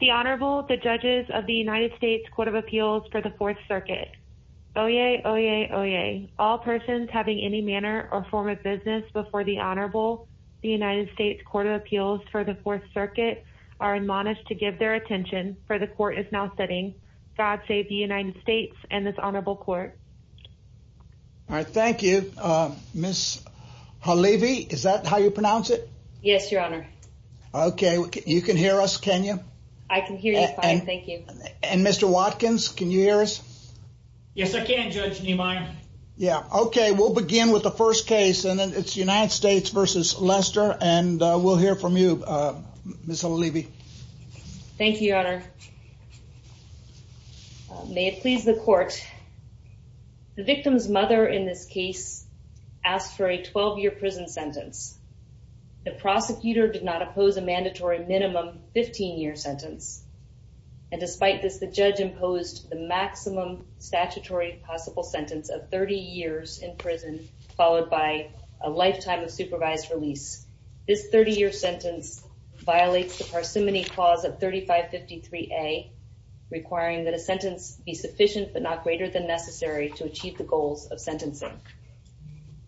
The Honorable, the Judges of the United States Court of Appeals for the Fourth Circuit. Oyez, oyez, oyez. All persons having any manner or form of business before the Honorable, the United States Court of Appeals for the Fourth Circuit are admonished to give their attention for the Court is now sitting. God save the United States and this Honorable Court. All right. Thank you. Miss Halevy, is that how you pronounce it? Yes, Your Honor. Okay. You can hear us, can you? I can hear you fine. Thank you. And Mr. Watkins, can you hear us? Yes, I can, Judge Niemeyer. Yeah. Okay. We'll begin with the first case and then it's United States v. Lester and we'll hear from you, Miss Halevy. Thank you, Your Honor. May it please the Court, the victim's mother in this case asked for a 12-year prison sentence. The prosecutor did not oppose a mandatory minimum 15-year sentence. And despite this, the judge imposed the maximum statutory possible sentence of 30 years in prison followed by a lifetime of supervised release. This 30-year sentence violates the Parsimony Clause of 3553A, requiring that a sentence be sufficient but not greater than necessary to achieve the goals of sentencing.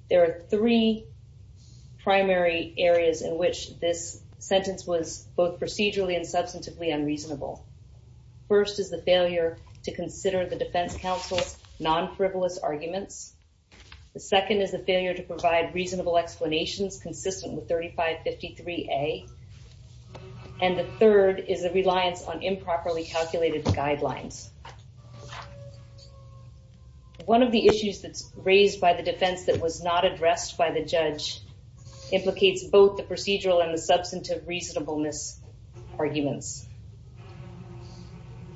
There are three primary areas in which this sentence was both procedurally and substantively unreasonable. First is the failure to consider the defense counsel's non-frivolous arguments. The second is the failure to provide reasonable explanations consistent with 3553A. And the third is a reliance on improperly calculated guidelines. One of the issues that's raised by the defense that was not addressed by the judge implicates both the procedural and the substantive reasonableness arguments.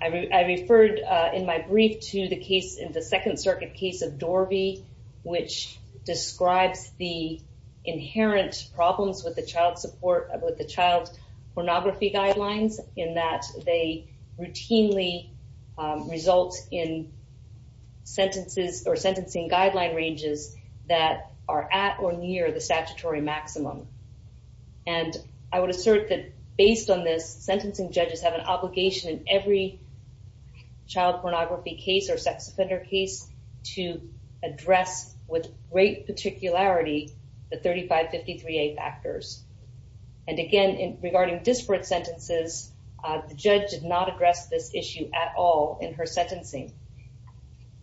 I referred in my brief to the case in the Second Circuit case of Dorvey, which describes the inherent problems with the child support, with the child pornography guidelines in that they routinely result in sentences or sentencing guideline ranges that are at or near the statutory maximum. And I would assert that based on this, sentencing judges have an obligation in every child pornography case or sex offender case to address with great particularity the 3553A factors. And again, regarding disparate sentences, the judge did not address this issue at all in her sentencing.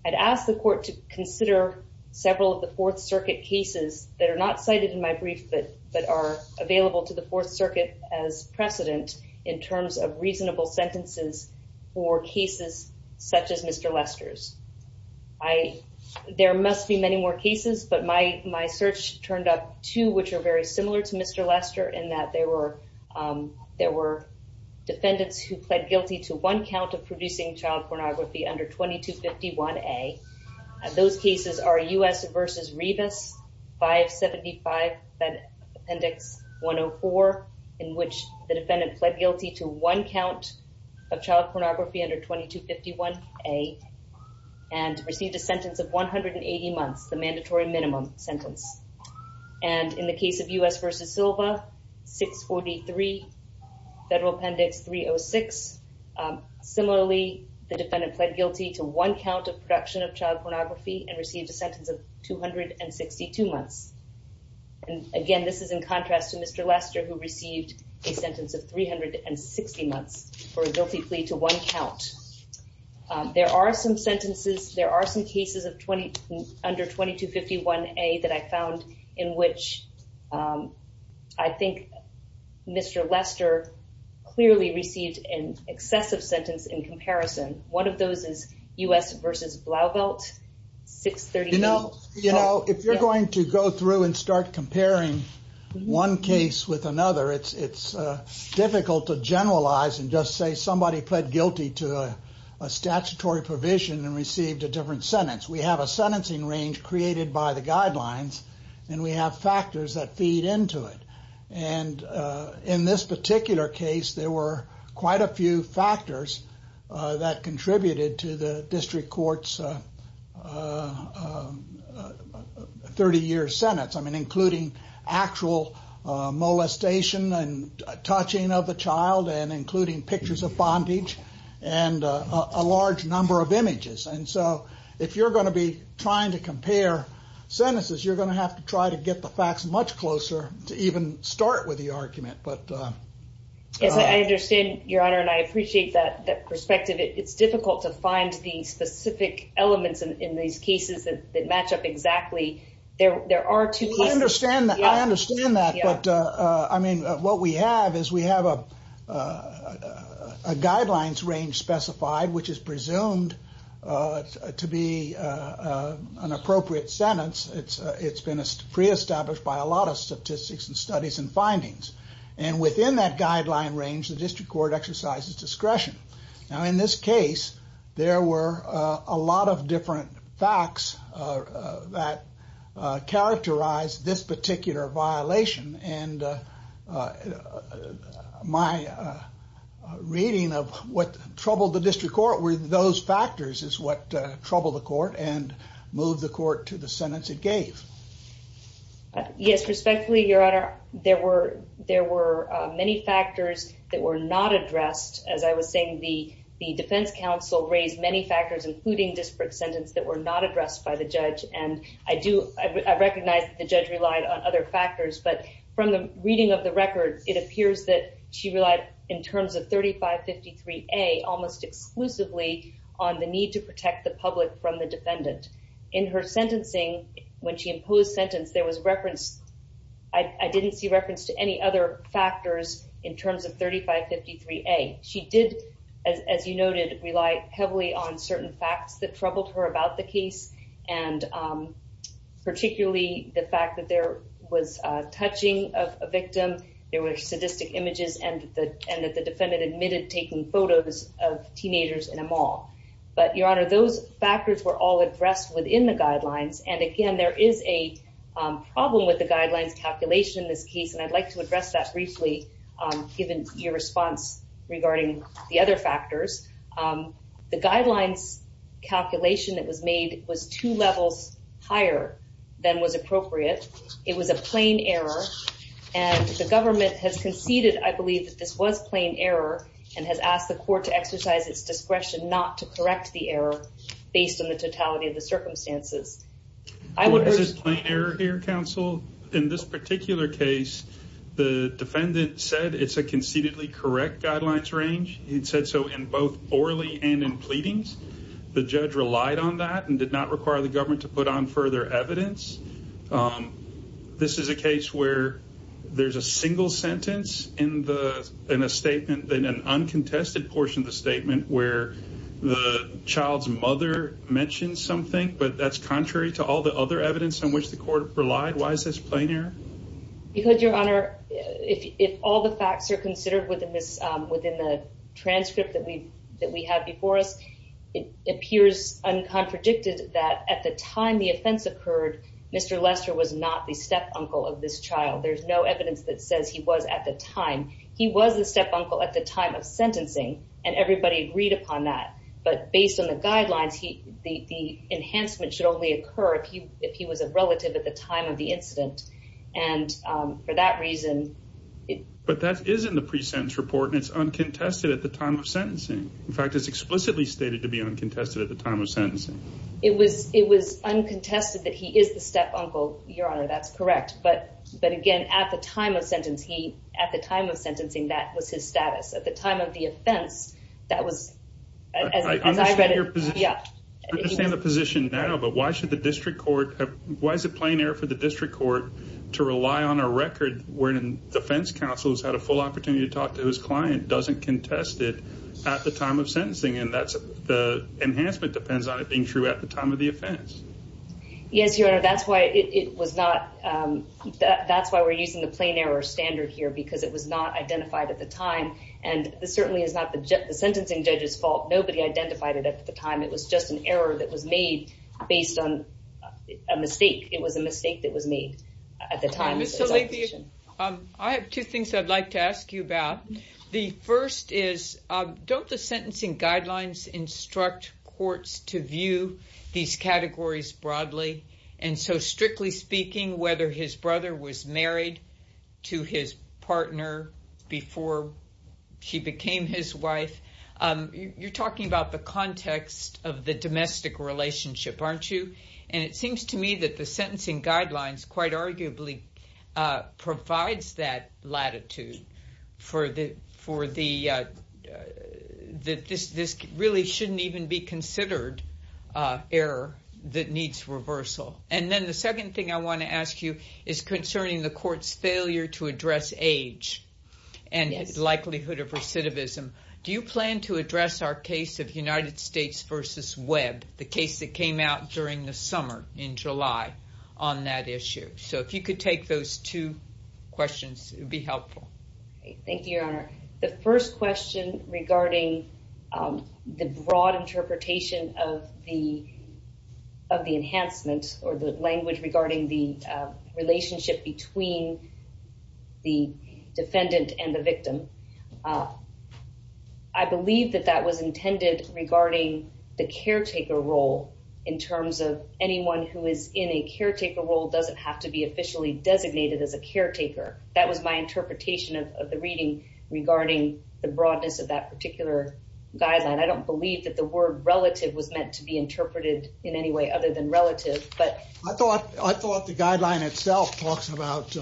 I'd ask the court to consider several of the Fourth Circuit cases that are not cited in my brief but are available to the precedent in terms of reasonable sentences for cases such as Mr. Lester's. There must be many more cases, but my search turned up two which are very similar to Mr. Lester in that there were defendants who pled guilty to one count of producing child pornography under 2251A. Those cases are U.S. v. Rebus, 575 Appendix 104, in which the defendant pled guilty to one count of child pornography under 2251A and received a sentence of 180 months, the mandatory minimum sentence. And in the case of U.S. v. Silva, 643 Federal Appendix 306, similarly the defendant pled guilty to one count of production of child pornography and received a sentence of 262 months. And again, this is in contrast to Mr. Lester who received a sentence of 360 months for a guilty plea to one count. There are some sentences, there are some cases under 2251A that I found in which I think Mr. Lester clearly received an excessive sentence in comparison. One of those is U.S. v. Blauvelt, 638. You know, if you're going to go through and start comparing one case with another, it's difficult to generalize and just say somebody pled guilty to a statutory provision and received a different sentence. We have a sentencing range created by the guidelines, and we have factors that feed into it. And in this particular case, there were quite a few factors that contributed to the district court's 30-year sentence, including actual molestation and touching of a child, and including pictures of bondage, and a large number of images. And so if you're going to be trying to compare sentences, you're going to have to try to get the facts much closer to even start with the argument. Yes, I understand, Your Honor, and I appreciate that perspective. It's difficult to find the specific elements in these cases that match up exactly. I understand that, but what we have is we have a guidelines range specified, which is presumed to be an appropriate sentence. It's been pre-established by a lot of statistics and studies and findings. And within that guideline range, the district court exercises discretion. Now, in this case, there were a lot of different facts that characterized this particular violation, and my reading of what troubled the district court were those factors is what troubled the court and moved the court to the sentence it gave. Yes, respectfully, Your Honor, there were many factors that were not addressed. As I was saying, the defense counsel raised many factors, including disparate sentence, that were not addressed by the judge. And I recognize that the judge relied on other factors, but from the reading of the record, it appears that she relied in terms of 3553A almost exclusively on the need to protect the public from the defendant. In her sentencing, when she imposed sentence, there was reference, I didn't see reference to any other factors in terms of 3553A. She did, as you noted, rely heavily on certain facts that troubled her about the case, and particularly the fact that there was touching of a victim, there were sadistic images, and that the defendant admitted taking photos of teenagers in a mall. But, Your Honor, those factors were all addressed within the guidelines, and again, there is a problem with the guidelines calculation in this case, and I'd like to address that briefly, given your response regarding the other factors. The guidelines calculation that was made was two levels higher than was appropriate. It was a plain error, and the government has conceded, I believe, that this was plain error, and has asked the court to exercise its discretion not to correct the error, based on the totality of the circumstances. This is plain error here, counsel. In this particular case, the defendant said it's a conceitedly correct guidelines range. He said so in both orally and in pleadings. The judge relied on that, and did not require the government to put on further evidence. This is a case where there's a single sentence in a statement, in an uncontested portion of the statement, where the child's mother mentions something, but that's contrary to all the other evidence on which the court relied. Why is this plain error? Because, Your Honor, if all the facts are considered within the transcript that we have before us, it appears uncontradicted that at the time the offense occurred, Mr. Lester was not the step-uncle of this child. There's no evidence that says he was at the time. He was the step-uncle at the time of sentencing, and everybody agreed upon that, but based on the guidelines, the enhancement should only occur if he was a relative at the time of the incident. And for that reason... But that is in the pre-sentence report, and it's uncontested at the time of sentencing. In fact, it's explicitly stated to be uncontested at the time of sentencing. It was uncontested that he is the step-uncle, Your Honor, that's correct. But again, at the time of sentencing, that was his status. At the time of the offense, that was... I understand the position now, but why should the district court... Why is it plain error for the district court to rely on a record wherein defense counsel has had a full opportunity to talk to his client, doesn't contest it at the time of sentencing, and the enhancement depends on it being true at the time of the offense? Yes, Your Honor, that's why it was not... That's why we're using the plain error standard here, because it was not identified at the time, and this certainly is not the sentencing judge's fault. Nobody identified it at the time. It was just an error that was made based on a mistake. It was a mistake that was made at the time. I have two things I'd like to ask you about. The first is, don't the sentencing guidelines instruct courts to view these categories broadly? And so, strictly speaking, whether his brother was married to his partner before she became his wife, you're talking about the context of the domestic relationship, aren't you? And it seems to me that the sentencing guidelines quite arguably provides that latitude for the... That this really shouldn't even be considered error that needs reversal. And then the second thing I want to ask you is concerning the court's failure to address age and likelihood of recidivism. Do you plan to address our case of United States versus Webb, the case that came out during the summer in July on that issue? So if you could take those two questions, it would be helpful. Thank you, Your Honor. The first question regarding the broad interpretation of the enhancement or the language regarding the relationship between the defendant and the victim, I believe that that was intended regarding the caretaker role in terms of anyone who is in a caretaker role doesn't have to be officially designated as a caretaker. That was my interpretation of the reading regarding the broadness of that particular guideline. I don't believe that the word relative was meant to be interpreted in any way other than relative, but... Well, I thought the guideline itself talks about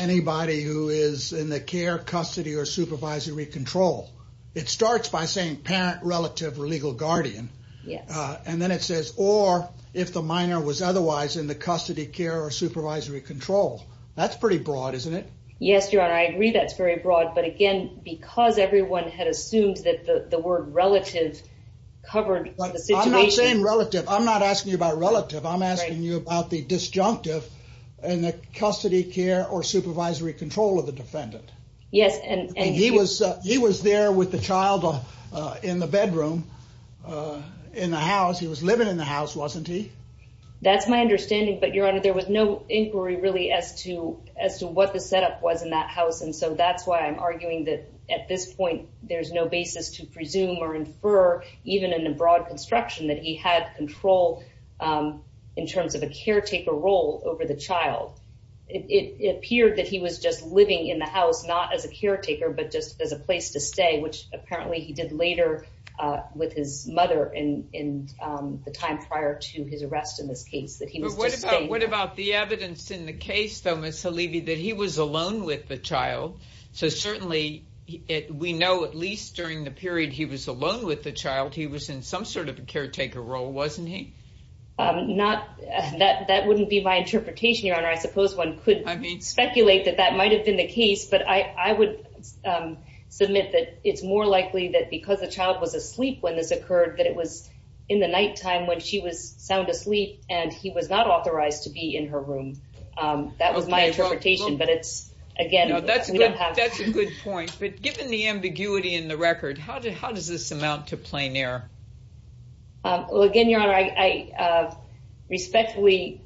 anybody who is in the care, custody, or supervisory control. It starts by saying parent, relative, or legal guardian. And then it says, or if the minor was otherwise in the custody, care, or supervisory control. That's pretty broad, isn't it? Yes, Your Honor. I agree that's very broad. But again, because everyone had assumed that the word relative covered the situation... Relative. I'm not asking you about relative. I'm asking you about the disjunctive and the custody, care, or supervisory control of the defendant. Yes, and... He was there with the child in the bedroom, in the house. He was living in the house, wasn't he? That's my understanding, but Your Honor, there was no inquiry really as to what the setup was in that house. And so that's why I'm arguing that at this point, there's no basis to presume or infer, even in a broad construction, that he had control in terms of a caretaker role over the child. It appeared that he was just living in the house, not as a caretaker, but just as a place to stay, which apparently he did later with his mother in the time prior to his arrest in this case. But what about the evidence in the case, though, Ms. Halibi, that he was alone with the child? So certainly, we know at least during the period he was alone with the child, he was in some sort of a caretaker role, wasn't he? That wouldn't be my interpretation, Your Honor. I suppose one could speculate that that might have been the case, but I would submit that it's more likely that because the child was asleep when this occurred, that it was in the nighttime when she was sound asleep, and he was not authorized to be in her room. That was my interpretation, but again, we don't have... That's a good point, but given the ambiguity in the record, how does this amount to plain error? Well, again, Your Honor, I respectfully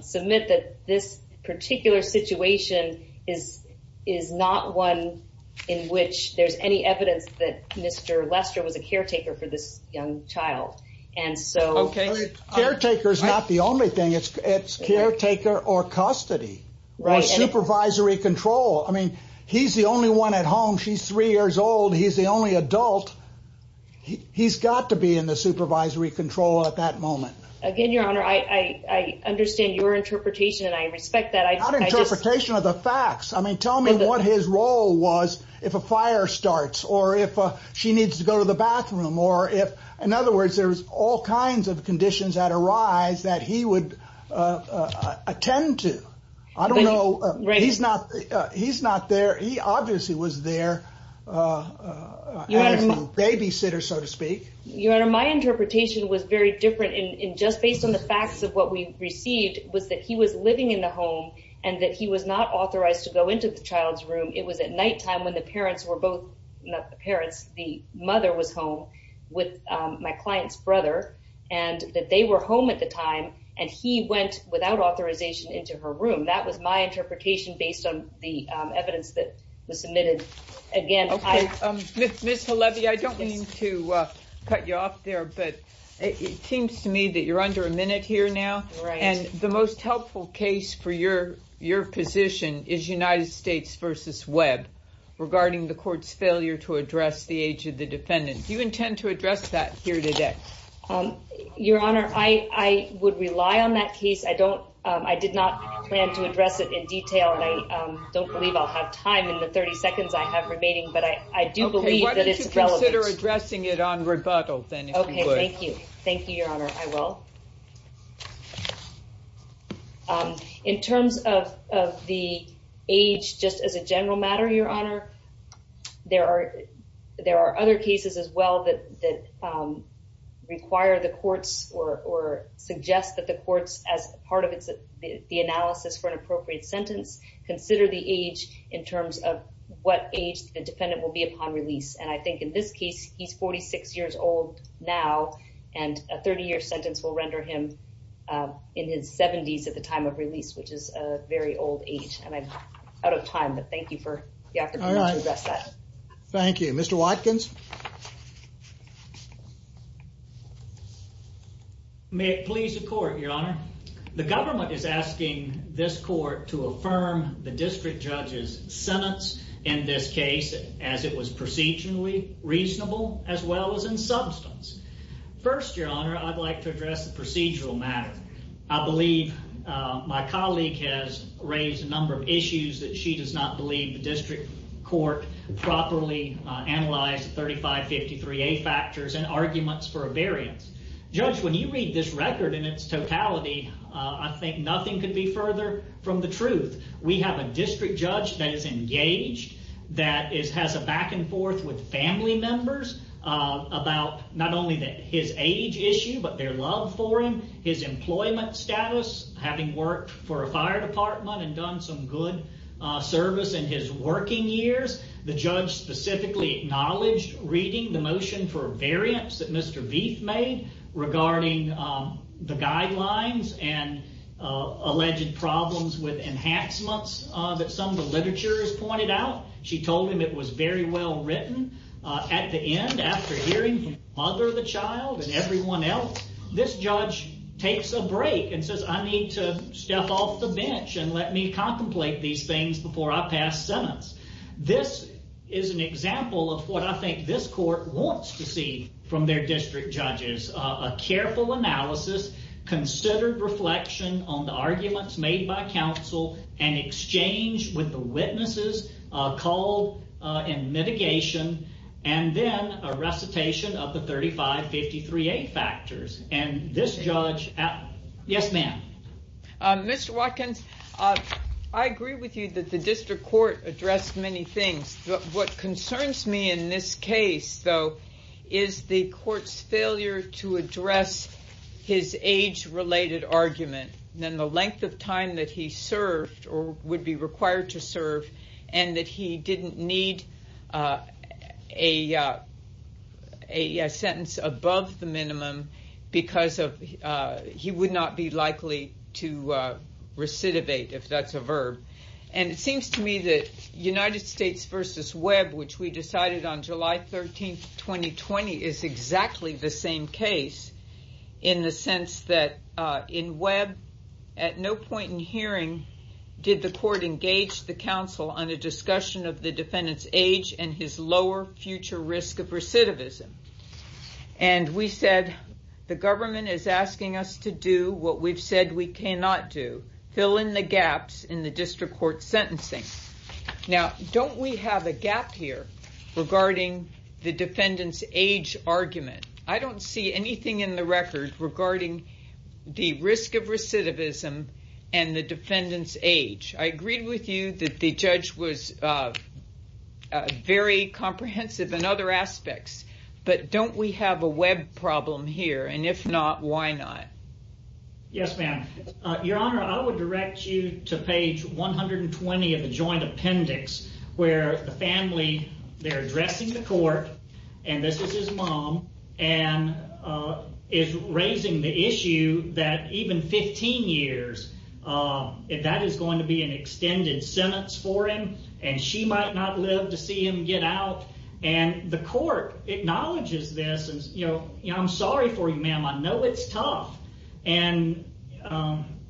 submit that this particular situation is not one in which there's any evidence that Mr. Lester was a caretaker for this young child. Caretaker's not the only thing. It's caretaker or custody, or supervisory control. I mean, he's the only one at home. She's three years old. He's the only adult. He's got to be in the supervisory control at that moment. Again, Your Honor, I understand your interpretation, and I respect that. It's not an interpretation of the facts. I mean, tell me what his role was if a fire starts, or if she needs to go to the bathroom, or if... In other words, there's all kinds of conditions that arise that he would attend to. I don't know. He's not there. He obviously was there as a babysitter, so to speak. Your Honor, my interpretation was very different, and just based on the facts of what we received, was that he was living in the home, and that he was not authorized to go into the child's room. It was at nighttime when the parents were both... Not the parents. The mother was home with my client's brother, and that they were home at the time, and he went without authorization into her room. That was my interpretation based on the evidence that was submitted. Ms. Halevi, I don't mean to cut you off there, but it seems to me that you're under a minute here now. The most helpful case for your position is United States v. Webb regarding the court's failure to address the age of the defendant. Do you intend to address that here today? Your Honor, I would rely on that case. I did not plan to address it in detail, and I don't believe I'll have time in the 30 seconds I have remaining, but I do believe that it's relevant. Okay, why don't you consider addressing it on rebuttal, then, if you would. Okay, thank you. Thank you, Your Honor. I will. In terms of the age, just as a general matter, Your Honor, there are other cases as well that require the courts or suggest that the courts, as part of the analysis for an appropriate sentence, consider the age in terms of what age the defendant will be upon release. And I think in this case, he's 46 years old now, and a 30-year sentence will render him in his 70s at the time of release, which is a very old age. And I'm out of time, but thank you for the opportunity to address that. Thank you. Mr. Watkins? May it please the court, Your Honor. The government is asking this court to affirm the district judge's sentence in this case as it was procedurally reasonable, as well as in substance. First, Your Honor, I'd like to address the procedural matter. I believe my colleague has raised a number of issues that she does not believe the district court properly analyzed the 3553A factors and arguments for a variance. Judge, when you read this record in its totality, I think nothing could be further from the truth. We have a district judge that is engaged, that has a back and forth with family members about not only his age issue, but their love for him, his employment status, having worked for a fire department and done some good service in his working years. The judge specifically acknowledged reading the motion for a variance that Mr. Veith made regarding the guidelines and alleged problems with enhancements that some of the literature has pointed out. She told him it was very well written. At the end, after hearing from the mother of the child and everyone else, this judge takes a break and says, I need to step off the bench and let me contemplate these things before I pass sentence. This is an example of what I think this court wants to see from their district judges. A careful analysis, considered reflection on the arguments made by counsel, an exchange with the witnesses called in mitigation, and then a recitation of the 3553A factors. And this judge, yes ma'am? Because he would not be likely to recidivate, if that's a verb. And it seems to me that United States versus Webb, which we decided on July 13th, 2020, is exactly the same case in the sense that in Webb, at no point in hearing did the court engage the counsel on a discussion of the defendant's age and his lower future risk of recidivism. And we said, the government is asking us to do what we've said we cannot do, fill in the gaps in the district court sentencing. Now, don't we have a gap here regarding the defendant's age argument? I don't see anything in the record regarding the risk of recidivism and the defendant's age. I agreed with you that the judge was very comprehensive in other aspects. But don't we have a Webb problem here? And if not, why not? Yes, ma'am. Your Honor, I would direct you to page 120 of the joint appendix, where the family, they're addressing the court, and this is his mom, and is raising the issue that even 15 years, if that is going to be an extended sentence for him, and she might not live to see him get out. And the court acknowledges this, and I'm sorry for you, ma'am, I know it's tough, and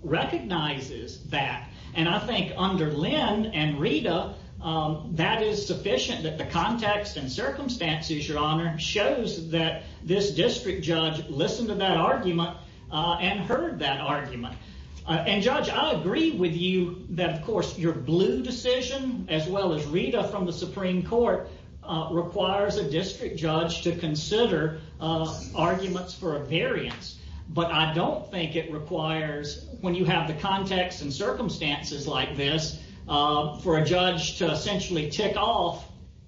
recognizes that. And I think under Lynn and Rita, that is sufficient that the context and circumstances, Your Honor, shows that this district judge listened to that argument and heard that argument. And Judge, I agree with you that, of course, your blue decision, as well as Rita from the Supreme Court, requires a district judge to consider arguments for a variance. But I don't think it requires, when you have the context and circumstances like this, for a judge to essentially tick off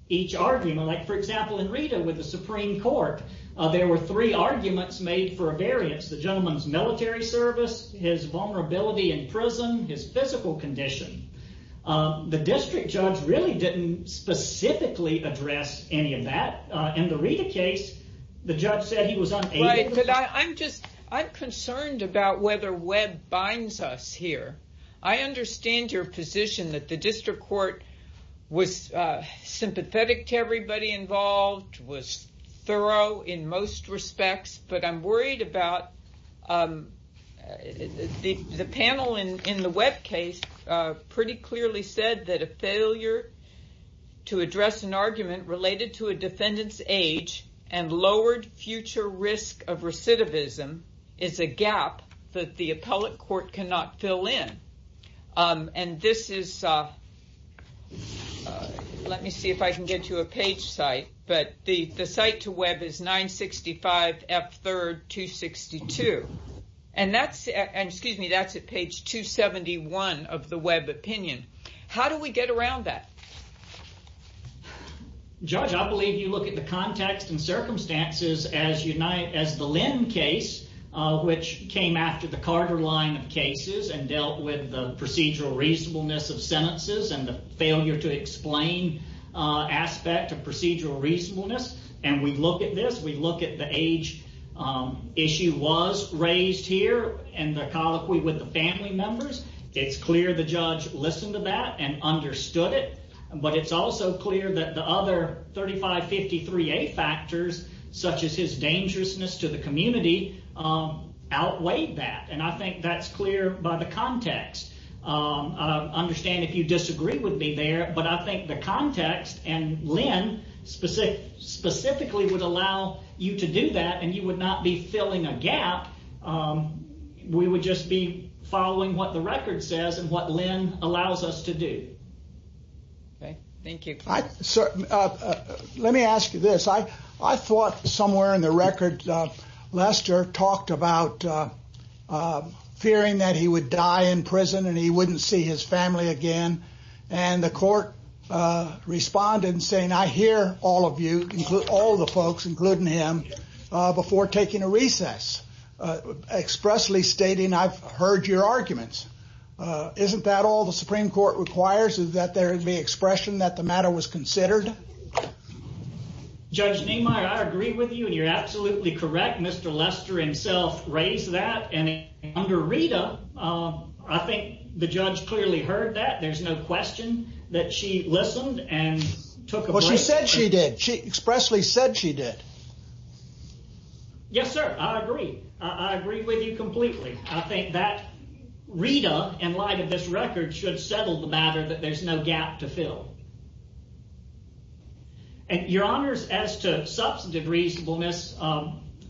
each argument. Like, for example, in Rita, with the Supreme Court, there were three arguments made for a variance. The gentleman's military service, his vulnerability in prison, his physical condition. The district judge really didn't specifically address any of that. In the Rita case, the judge said he was unable to. Right, but I'm concerned about whether Webb binds us here. I understand your position that the district court was sympathetic to everybody involved, was thorough in most respects, but I'm worried about the panel in the Webb case pretty clearly said that a failure to address an argument related to a defendant's age and lowered future risk of recidivism is a gap that the appellate court cannot fill in. And this is, let me see if I can get to a page site, but the site to Webb is 965 F3rd 262. And that's, excuse me, that's at page 271 of the Webb opinion. How do we get around that? Judge, I believe you look at the context and circumstances as the Lynn case, which came after the Carter line of cases and dealt with the procedural reasonableness of sentences and the failure to explain aspect of procedural reasonableness. And we look at this, we look at the age issue was raised here and the colloquy with the family members. It's clear the judge listened to that and understood it, but it's also clear that the other 35 53 a factors such as his dangerousness to the community outweighed that. And I think that's clear by the context. I understand if you disagree with me there, but I think the context and Lynn specific specifically would allow you to do that and you would not be filling a gap. We would just be following what the record says and what Lynn allows us to do. Let me ask you this. I thought somewhere in the record, Lester talked about fearing that he would die in prison and he wouldn't see his family again. And the court responded saying, I hear all of you, all the folks, including him before taking a recess, expressly stating, I've heard your arguments. Isn't that all the Supreme Court requires is that there would be expression that the matter was considered. Judge Nehemiah, I agree with you and you're absolutely correct. Mr. Lester himself raised that. And under Rita, I think the judge clearly heard that. There's no question that she listened and took a break. She said she did. She expressly said she did. Yes, sir. I agree. I agree with you completely. I think that Rita, in light of this record, should settle the matter that there's no gap to fill. And your honors, as to substantive reasonableness,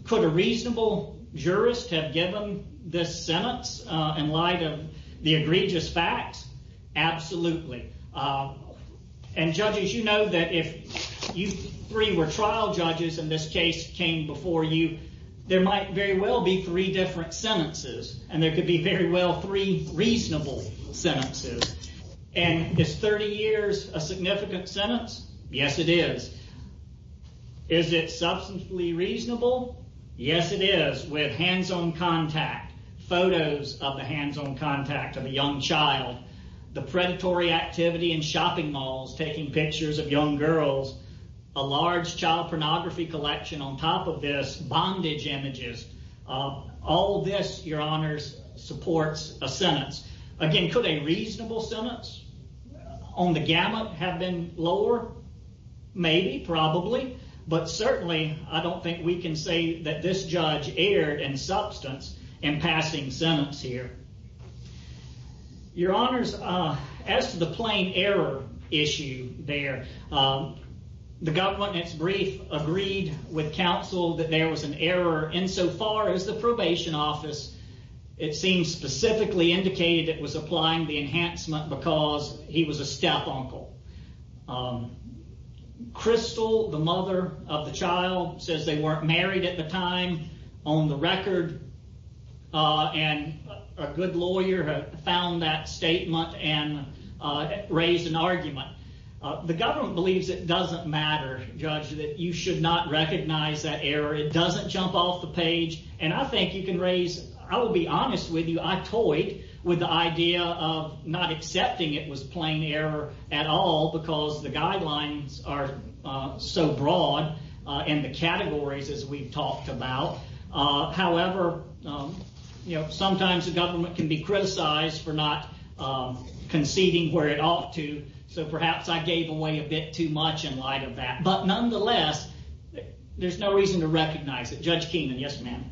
could a reasonable jurist have given this sentence in light of the egregious facts? Absolutely. And judges, you know that if you three were trial judges and this case came before you, there might very well be three different sentences and there could be very well three reasonable sentences. And is 30 years a significant sentence? Yes, it is. Is it substantively reasonable? Yes, it is. With hands-on contact, photos of the hands-on contact of a young child, the predatory activity in shopping malls, taking pictures of young girls, a large child pornography collection on top of this, bondage images, all this, your honors, supports a sentence. Again, could a reasonable sentence on the gamut have been lower? Maybe, probably, but certainly I don't think we can say that this judge erred in substance in passing sentence here. Your honors, as to the plain error issue there, the government's brief agreed with counsel that there was an error insofar as the probation office, it seems specifically indicated it was applying the enhancement because he was a step-uncle. Crystal, the mother of the child, says they weren't married at the time on the record and a good lawyer found that statement and raised an argument. The government believes it doesn't matter, Judge, that you should not recognize that error. It doesn't jump off the page and I think you can raise, I will be honest with you, I toyed with the idea of not accepting it was plain error at all because the guidelines are so broad in the categories as we've talked about. However, sometimes the government can be criticized for not conceding where it ought to, so perhaps I gave away a bit too much in light of that, but nonetheless, there's no reason to recognize it. Judge Keenan, yes ma'am.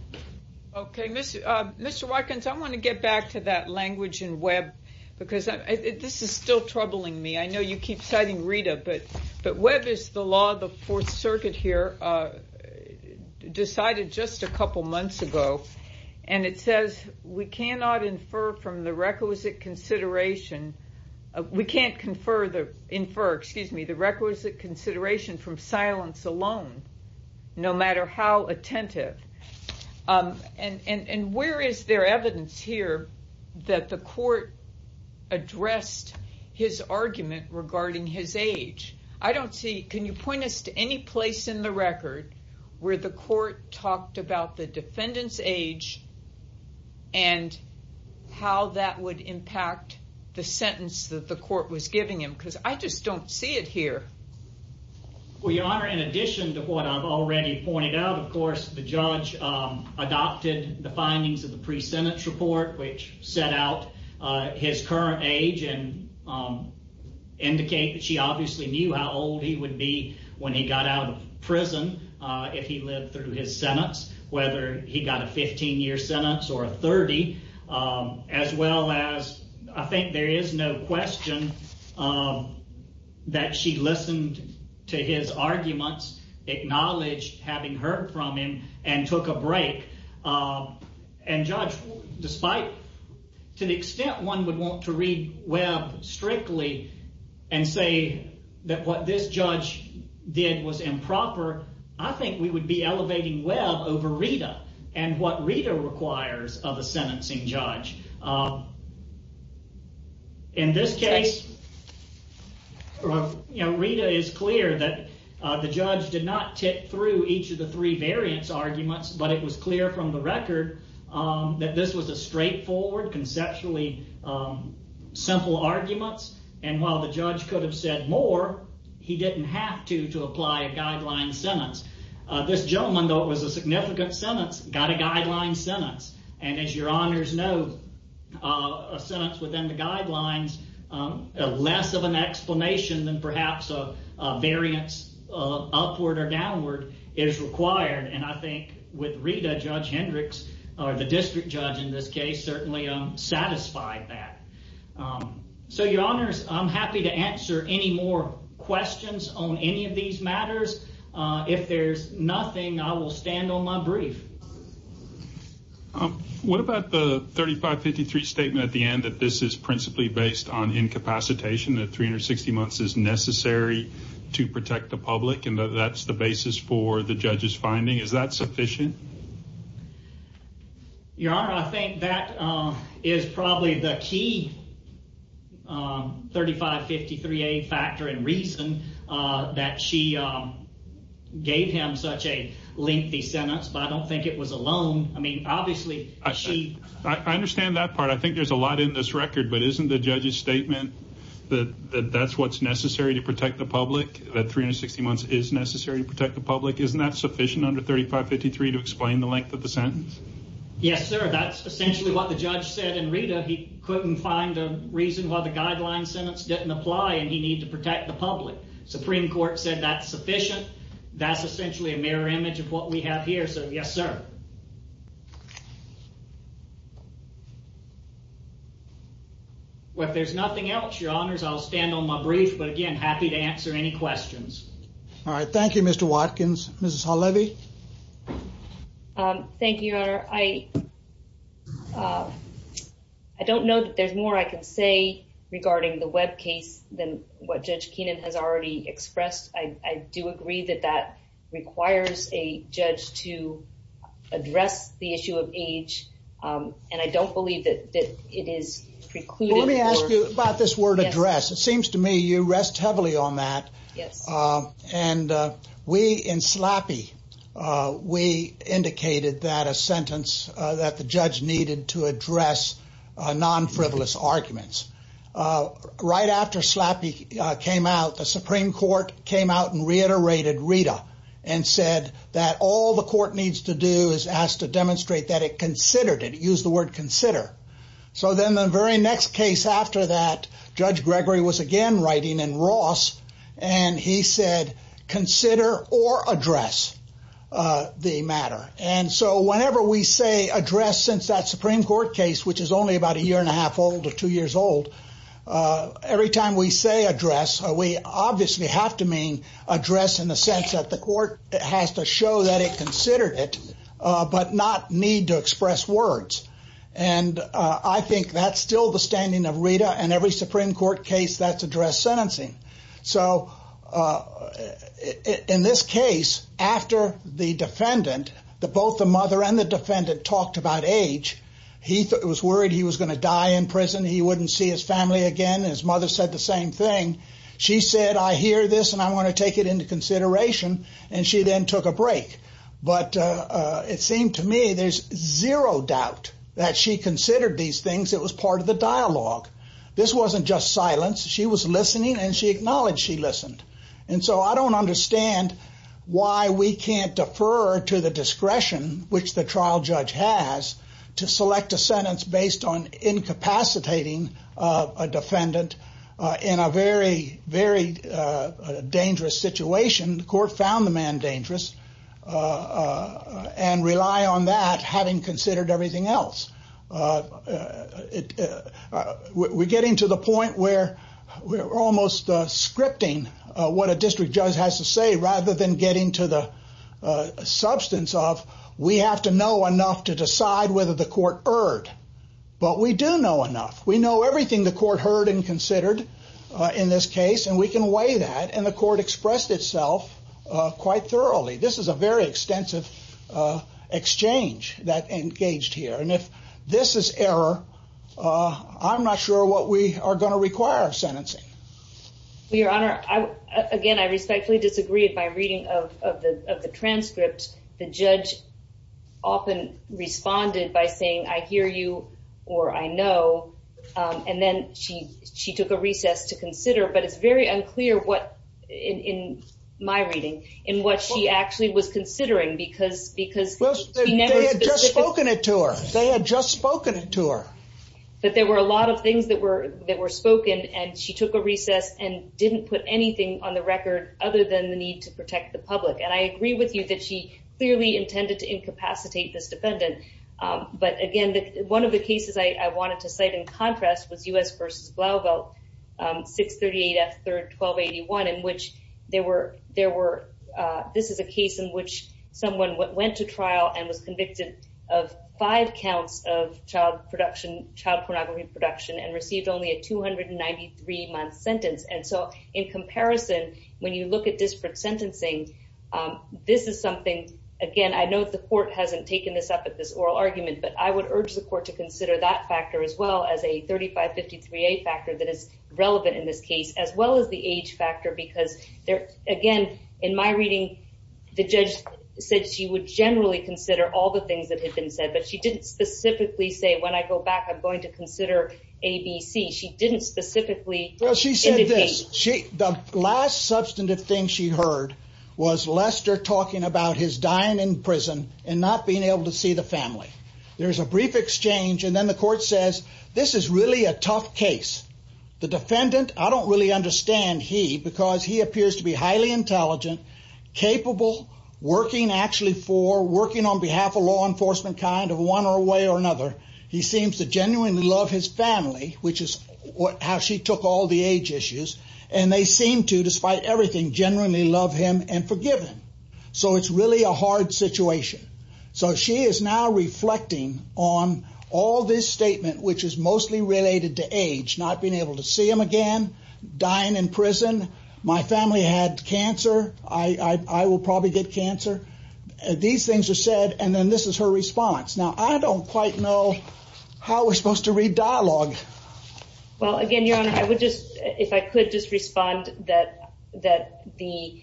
Okay, Mr. Watkins, I want to get back to that language in Webb because this is still troubling me. I know you keep citing Rita, but Webb is the law of the Fourth Circuit here, decided just a couple months ago, and it says, We cannot infer the requisite consideration from silence alone, no matter how attentive. And where is there evidence here that the court addressed his argument regarding his age? I don't see, can you point us to any place in the record where the court talked about the defendant's age and how that would impact the sentence that the court was giving him? Because I just don't see it here. Well, Your Honor, in addition to what I've already pointed out, of course, the judge adopted the findings of the pre-sentence report, which set out his current age and indicate that she obviously knew how old he would be when he got out of prison if he lived through his sentence, whether he got a 15 year sentence or a 30. As well as I think there is no question that she listened to his arguments, acknowledged having heard from him and took a break. And Judge, despite to the extent one would want to read Webb strictly and say that what this judge did was improper, I think we would be elevating Webb over Rita. And what Rita requires of a sentencing judge. In this case, Rita is clear that the judge did not tip through each of the three variants arguments, but it was clear from the record that this was a straightforward, conceptually simple arguments. And while the judge could have said more, he didn't have to, to apply a guideline sentence. This gentleman, though it was a significant sentence, got a guideline sentence. And as Your Honors know, a sentence within the guidelines, less of an explanation than perhaps a variance upward or downward is required. And I think with Rita, Judge Hendricks or the district judge in this case certainly satisfied that. So, Your Honors, I'm happy to answer any more questions on any of these matters. If there's nothing, I will stand on my brief. What about the 3553 statement at the end that this is principally based on incapacitation, that 360 months is necessary to protect the public and that that's the basis for the judge's finding? Is that sufficient? Your Honor, I think that is probably the key 3553A factor and reason that she gave him such a lengthy sentence, but I don't think it was alone. I mean, obviously, she. I understand that part. I think there's a lot in this record, but isn't the judge's statement that that's what's necessary to protect the public, that 360 months is necessary to protect the public? Isn't that sufficient under 3553 to explain the length of the sentence? Yes, sir. That's essentially what the judge said. And Rita, he couldn't find a reason why the guideline sentence didn't apply and he need to protect the public. Supreme Court said that's sufficient. That's essentially a mirror image of what we have here. So, yes, sir. Well, if there's nothing else, Your Honors, I'll stand on my brief, but again, happy to answer any questions. All right. Thank you, Mr. Watkins. Mrs. Halevy. Thank you, Your Honor. I don't know that there's more I can say regarding the Webb case than what Judge Keenan has already expressed. I do agree that that requires a judge to address the issue of age, and I don't believe that it is precluded. Well, let me ask you about this word address. It seems to me you rest heavily on that. And we in SLAPI, we indicated that a sentence that the judge needed to address non-frivolous arguments. Right after SLAPI came out, the Supreme Court came out and reiterated Rita and said that all the court needs to do is ask to demonstrate that it considered it, used the word consider. So then the very next case after that, Judge Gregory was again writing in Ross, and he said consider or address the matter. And so whenever we say address since that Supreme Court case, which is only about a year and a half old or two years old, every time we say address, we obviously have to mean address in the sense that the court has to show that it considered it, but not need to express words. And I think that's still the standing of Rita and every Supreme Court case that's addressed sentencing. So in this case, after the defendant, both the mother and the defendant talked about age, he was worried he was going to die in prison, he wouldn't see his family again. And his mother said the same thing. She said, I hear this and I'm going to take it into consideration. And she then took a break. But it seemed to me there's zero doubt that she considered these things. It was part of the dialogue. This wasn't just silence. She was listening and she acknowledged she listened. And so I don't understand why we can't defer to the discretion which the trial judge has to select a sentence based on incapacitating a defendant in a very, very dangerous situation. The court found the man dangerous and rely on that having considered everything else. We're getting to the point where we're almost scripting what a district judge has to say rather than getting to the substance of we have to know enough to decide whether the court heard. But we do know enough. We know everything the court heard and considered in this case. And we can weigh that. And the court expressed itself quite thoroughly. This is a very extensive exchange that engaged here. This is error. I'm not sure what we are going to require sentencing. Your Honor, I again, I respectfully disagree with my reading of the transcript. The judge often responded by saying, I hear you or I know. And then she she took a recess to consider. But it's very unclear what in my reading in what she actually was considering because because spoken it to her. They had just spoken to her. But there were a lot of things that were that were spoken and she took a recess and didn't put anything on the record other than the need to protect the public. And I agree with you that she clearly intended to incapacitate this defendant. But again, one of the cases I wanted to say, in contrast, was U.S. v. Blauvelt, 638 F. 3rd 1281, in which there were there were this is a case in which someone went to trial and was convicted of five counts of child production, child pornography production and received only a 293 month sentence. And so in comparison, when you look at disparate sentencing, this is something, again, I know the court hasn't taken this up at this oral argument, but I would urge the court to consider that factor as well as a 35 53, a factor that is relevant in this case, as well as the age factor, because there again, in my reading, the judge said she would generally consider all the things that have been said, but she didn't specifically say when I go back, I'm going to consider ABC. She didn't specifically. Well, she said this. She the last substantive thing she heard was Lester talking about his dying in prison and not being able to see the family. There is a brief exchange. And then the court says this is really a tough case. The defendant, I don't really understand. He because he appears to be highly intelligent, capable, working actually for working on behalf of law enforcement, kind of one way or another. He seems to genuinely love his family, which is how she took all the age issues. And they seem to, despite everything, generally love him and forgive him. So it's really a hard situation. So she is now reflecting on all this statement, which is mostly related to age, not being able to see him again, dying in prison. My family had cancer. I will probably get cancer. These things are said. And then this is her response. Now, I don't quite know how we're supposed to read dialogue. Well, again, your honor, I would just if I could just respond that that the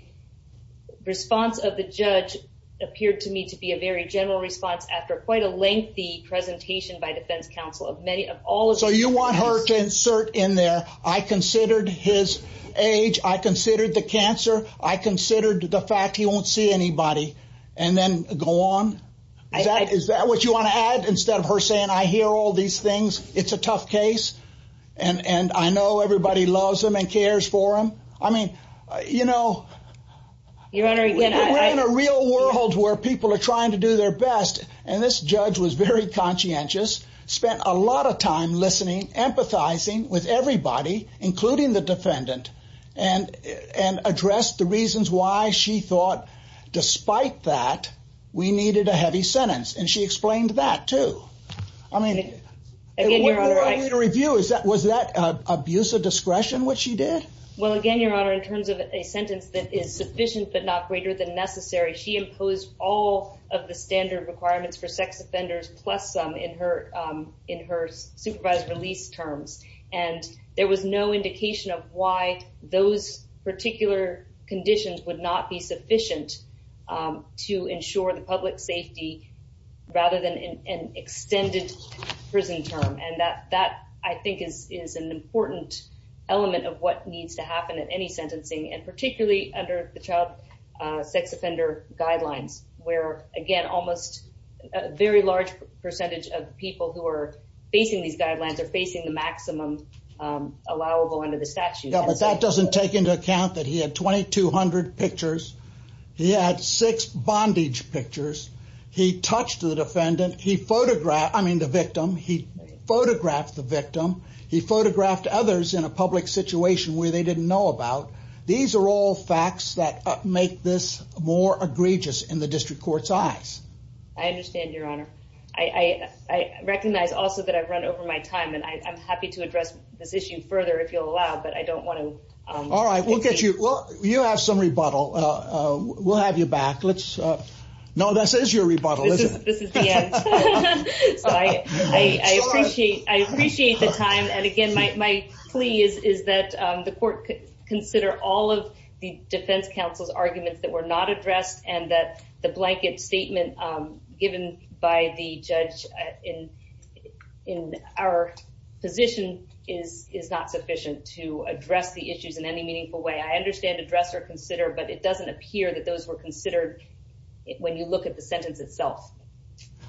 response of the judge appeared to me to be a very general response after quite a lengthy presentation by defense counsel of many of all. So you want her to insert in there? I considered his age. I considered the cancer. I considered the fact he won't see anybody and then go on. Is that what you want to add? Instead of her saying, I hear all these things. It's a tough case. And I know everybody loves him and cares for him. I mean, you know, you're in a real world where people are trying to do their best. And this judge was very conscientious, spent a lot of time listening, empathizing with everybody, including the defendant and and addressed the reasons why she thought, despite that, we needed a heavy sentence. And she explained that, too. I mean, again, your review is that was that an abuse of discretion? What she did? Well, again, your honor, in terms of a sentence that is sufficient but not greater than necessary, she imposed all of the standard requirements for sex offenders, plus some in her in her supervised release terms. And there was no indication of why those particular conditions would not be sufficient to ensure the public safety rather than an extended prison term. And that that, I think, is is an important element of what needs to happen at any sentencing and particularly under the child sex offender guidelines, where, again, almost a very large percentage of people who are facing these guidelines are facing the maximum allowable under the statute. But that doesn't take into account that he had 2200 pictures. He had six bondage pictures. He touched the defendant. He photographed I mean, the victim. He photographed the victim. He photographed others in a public situation where they didn't know about. These are all facts that make this more egregious in the district court size. I understand, your honor. I recognize also that I've run over my time and I'm happy to address this issue further if you'll allow. But I don't want to. All right, we'll get you. Well, you have some rebuttal. We'll have you back. Let's know. This is your rebuttal. This is the end. I appreciate I appreciate the time. And again, my plea is, is that the court consider all of the defense counsel's arguments that were not addressed and that the blanket statement given by the judge in our position is is not sufficient to address the issues in any meaningful way. I understand address or consider, but it doesn't appear that those were considered when you look at the sentence itself.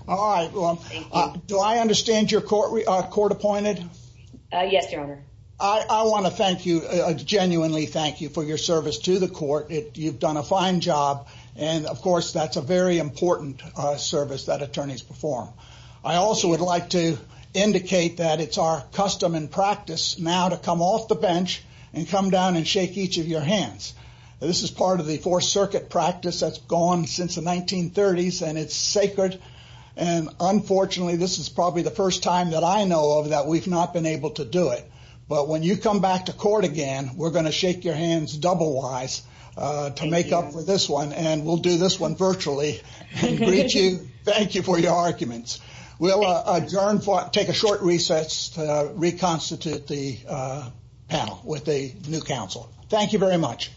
All right. Do I understand your court court appointed? Yes, your honor. I want to thank you genuinely. Thank you for your service to the court. You've done a fine job. And of course, that's a very important service that attorneys perform. I also would like to indicate that it's our custom and practice now to come off the bench and come down and shake each of your hands. This is part of the Fourth Circuit practice that's gone since the 1930s, and it's sacred. And unfortunately, this is probably the first time that I know of that we've not been able to do it. But when you come back to court again, we're going to shake your hands double wise to make up for this one. And we'll do this one virtually. Thank you for your arguments. We'll adjourn for take a short recess to reconstitute the panel with a new counsel. Thank you very much.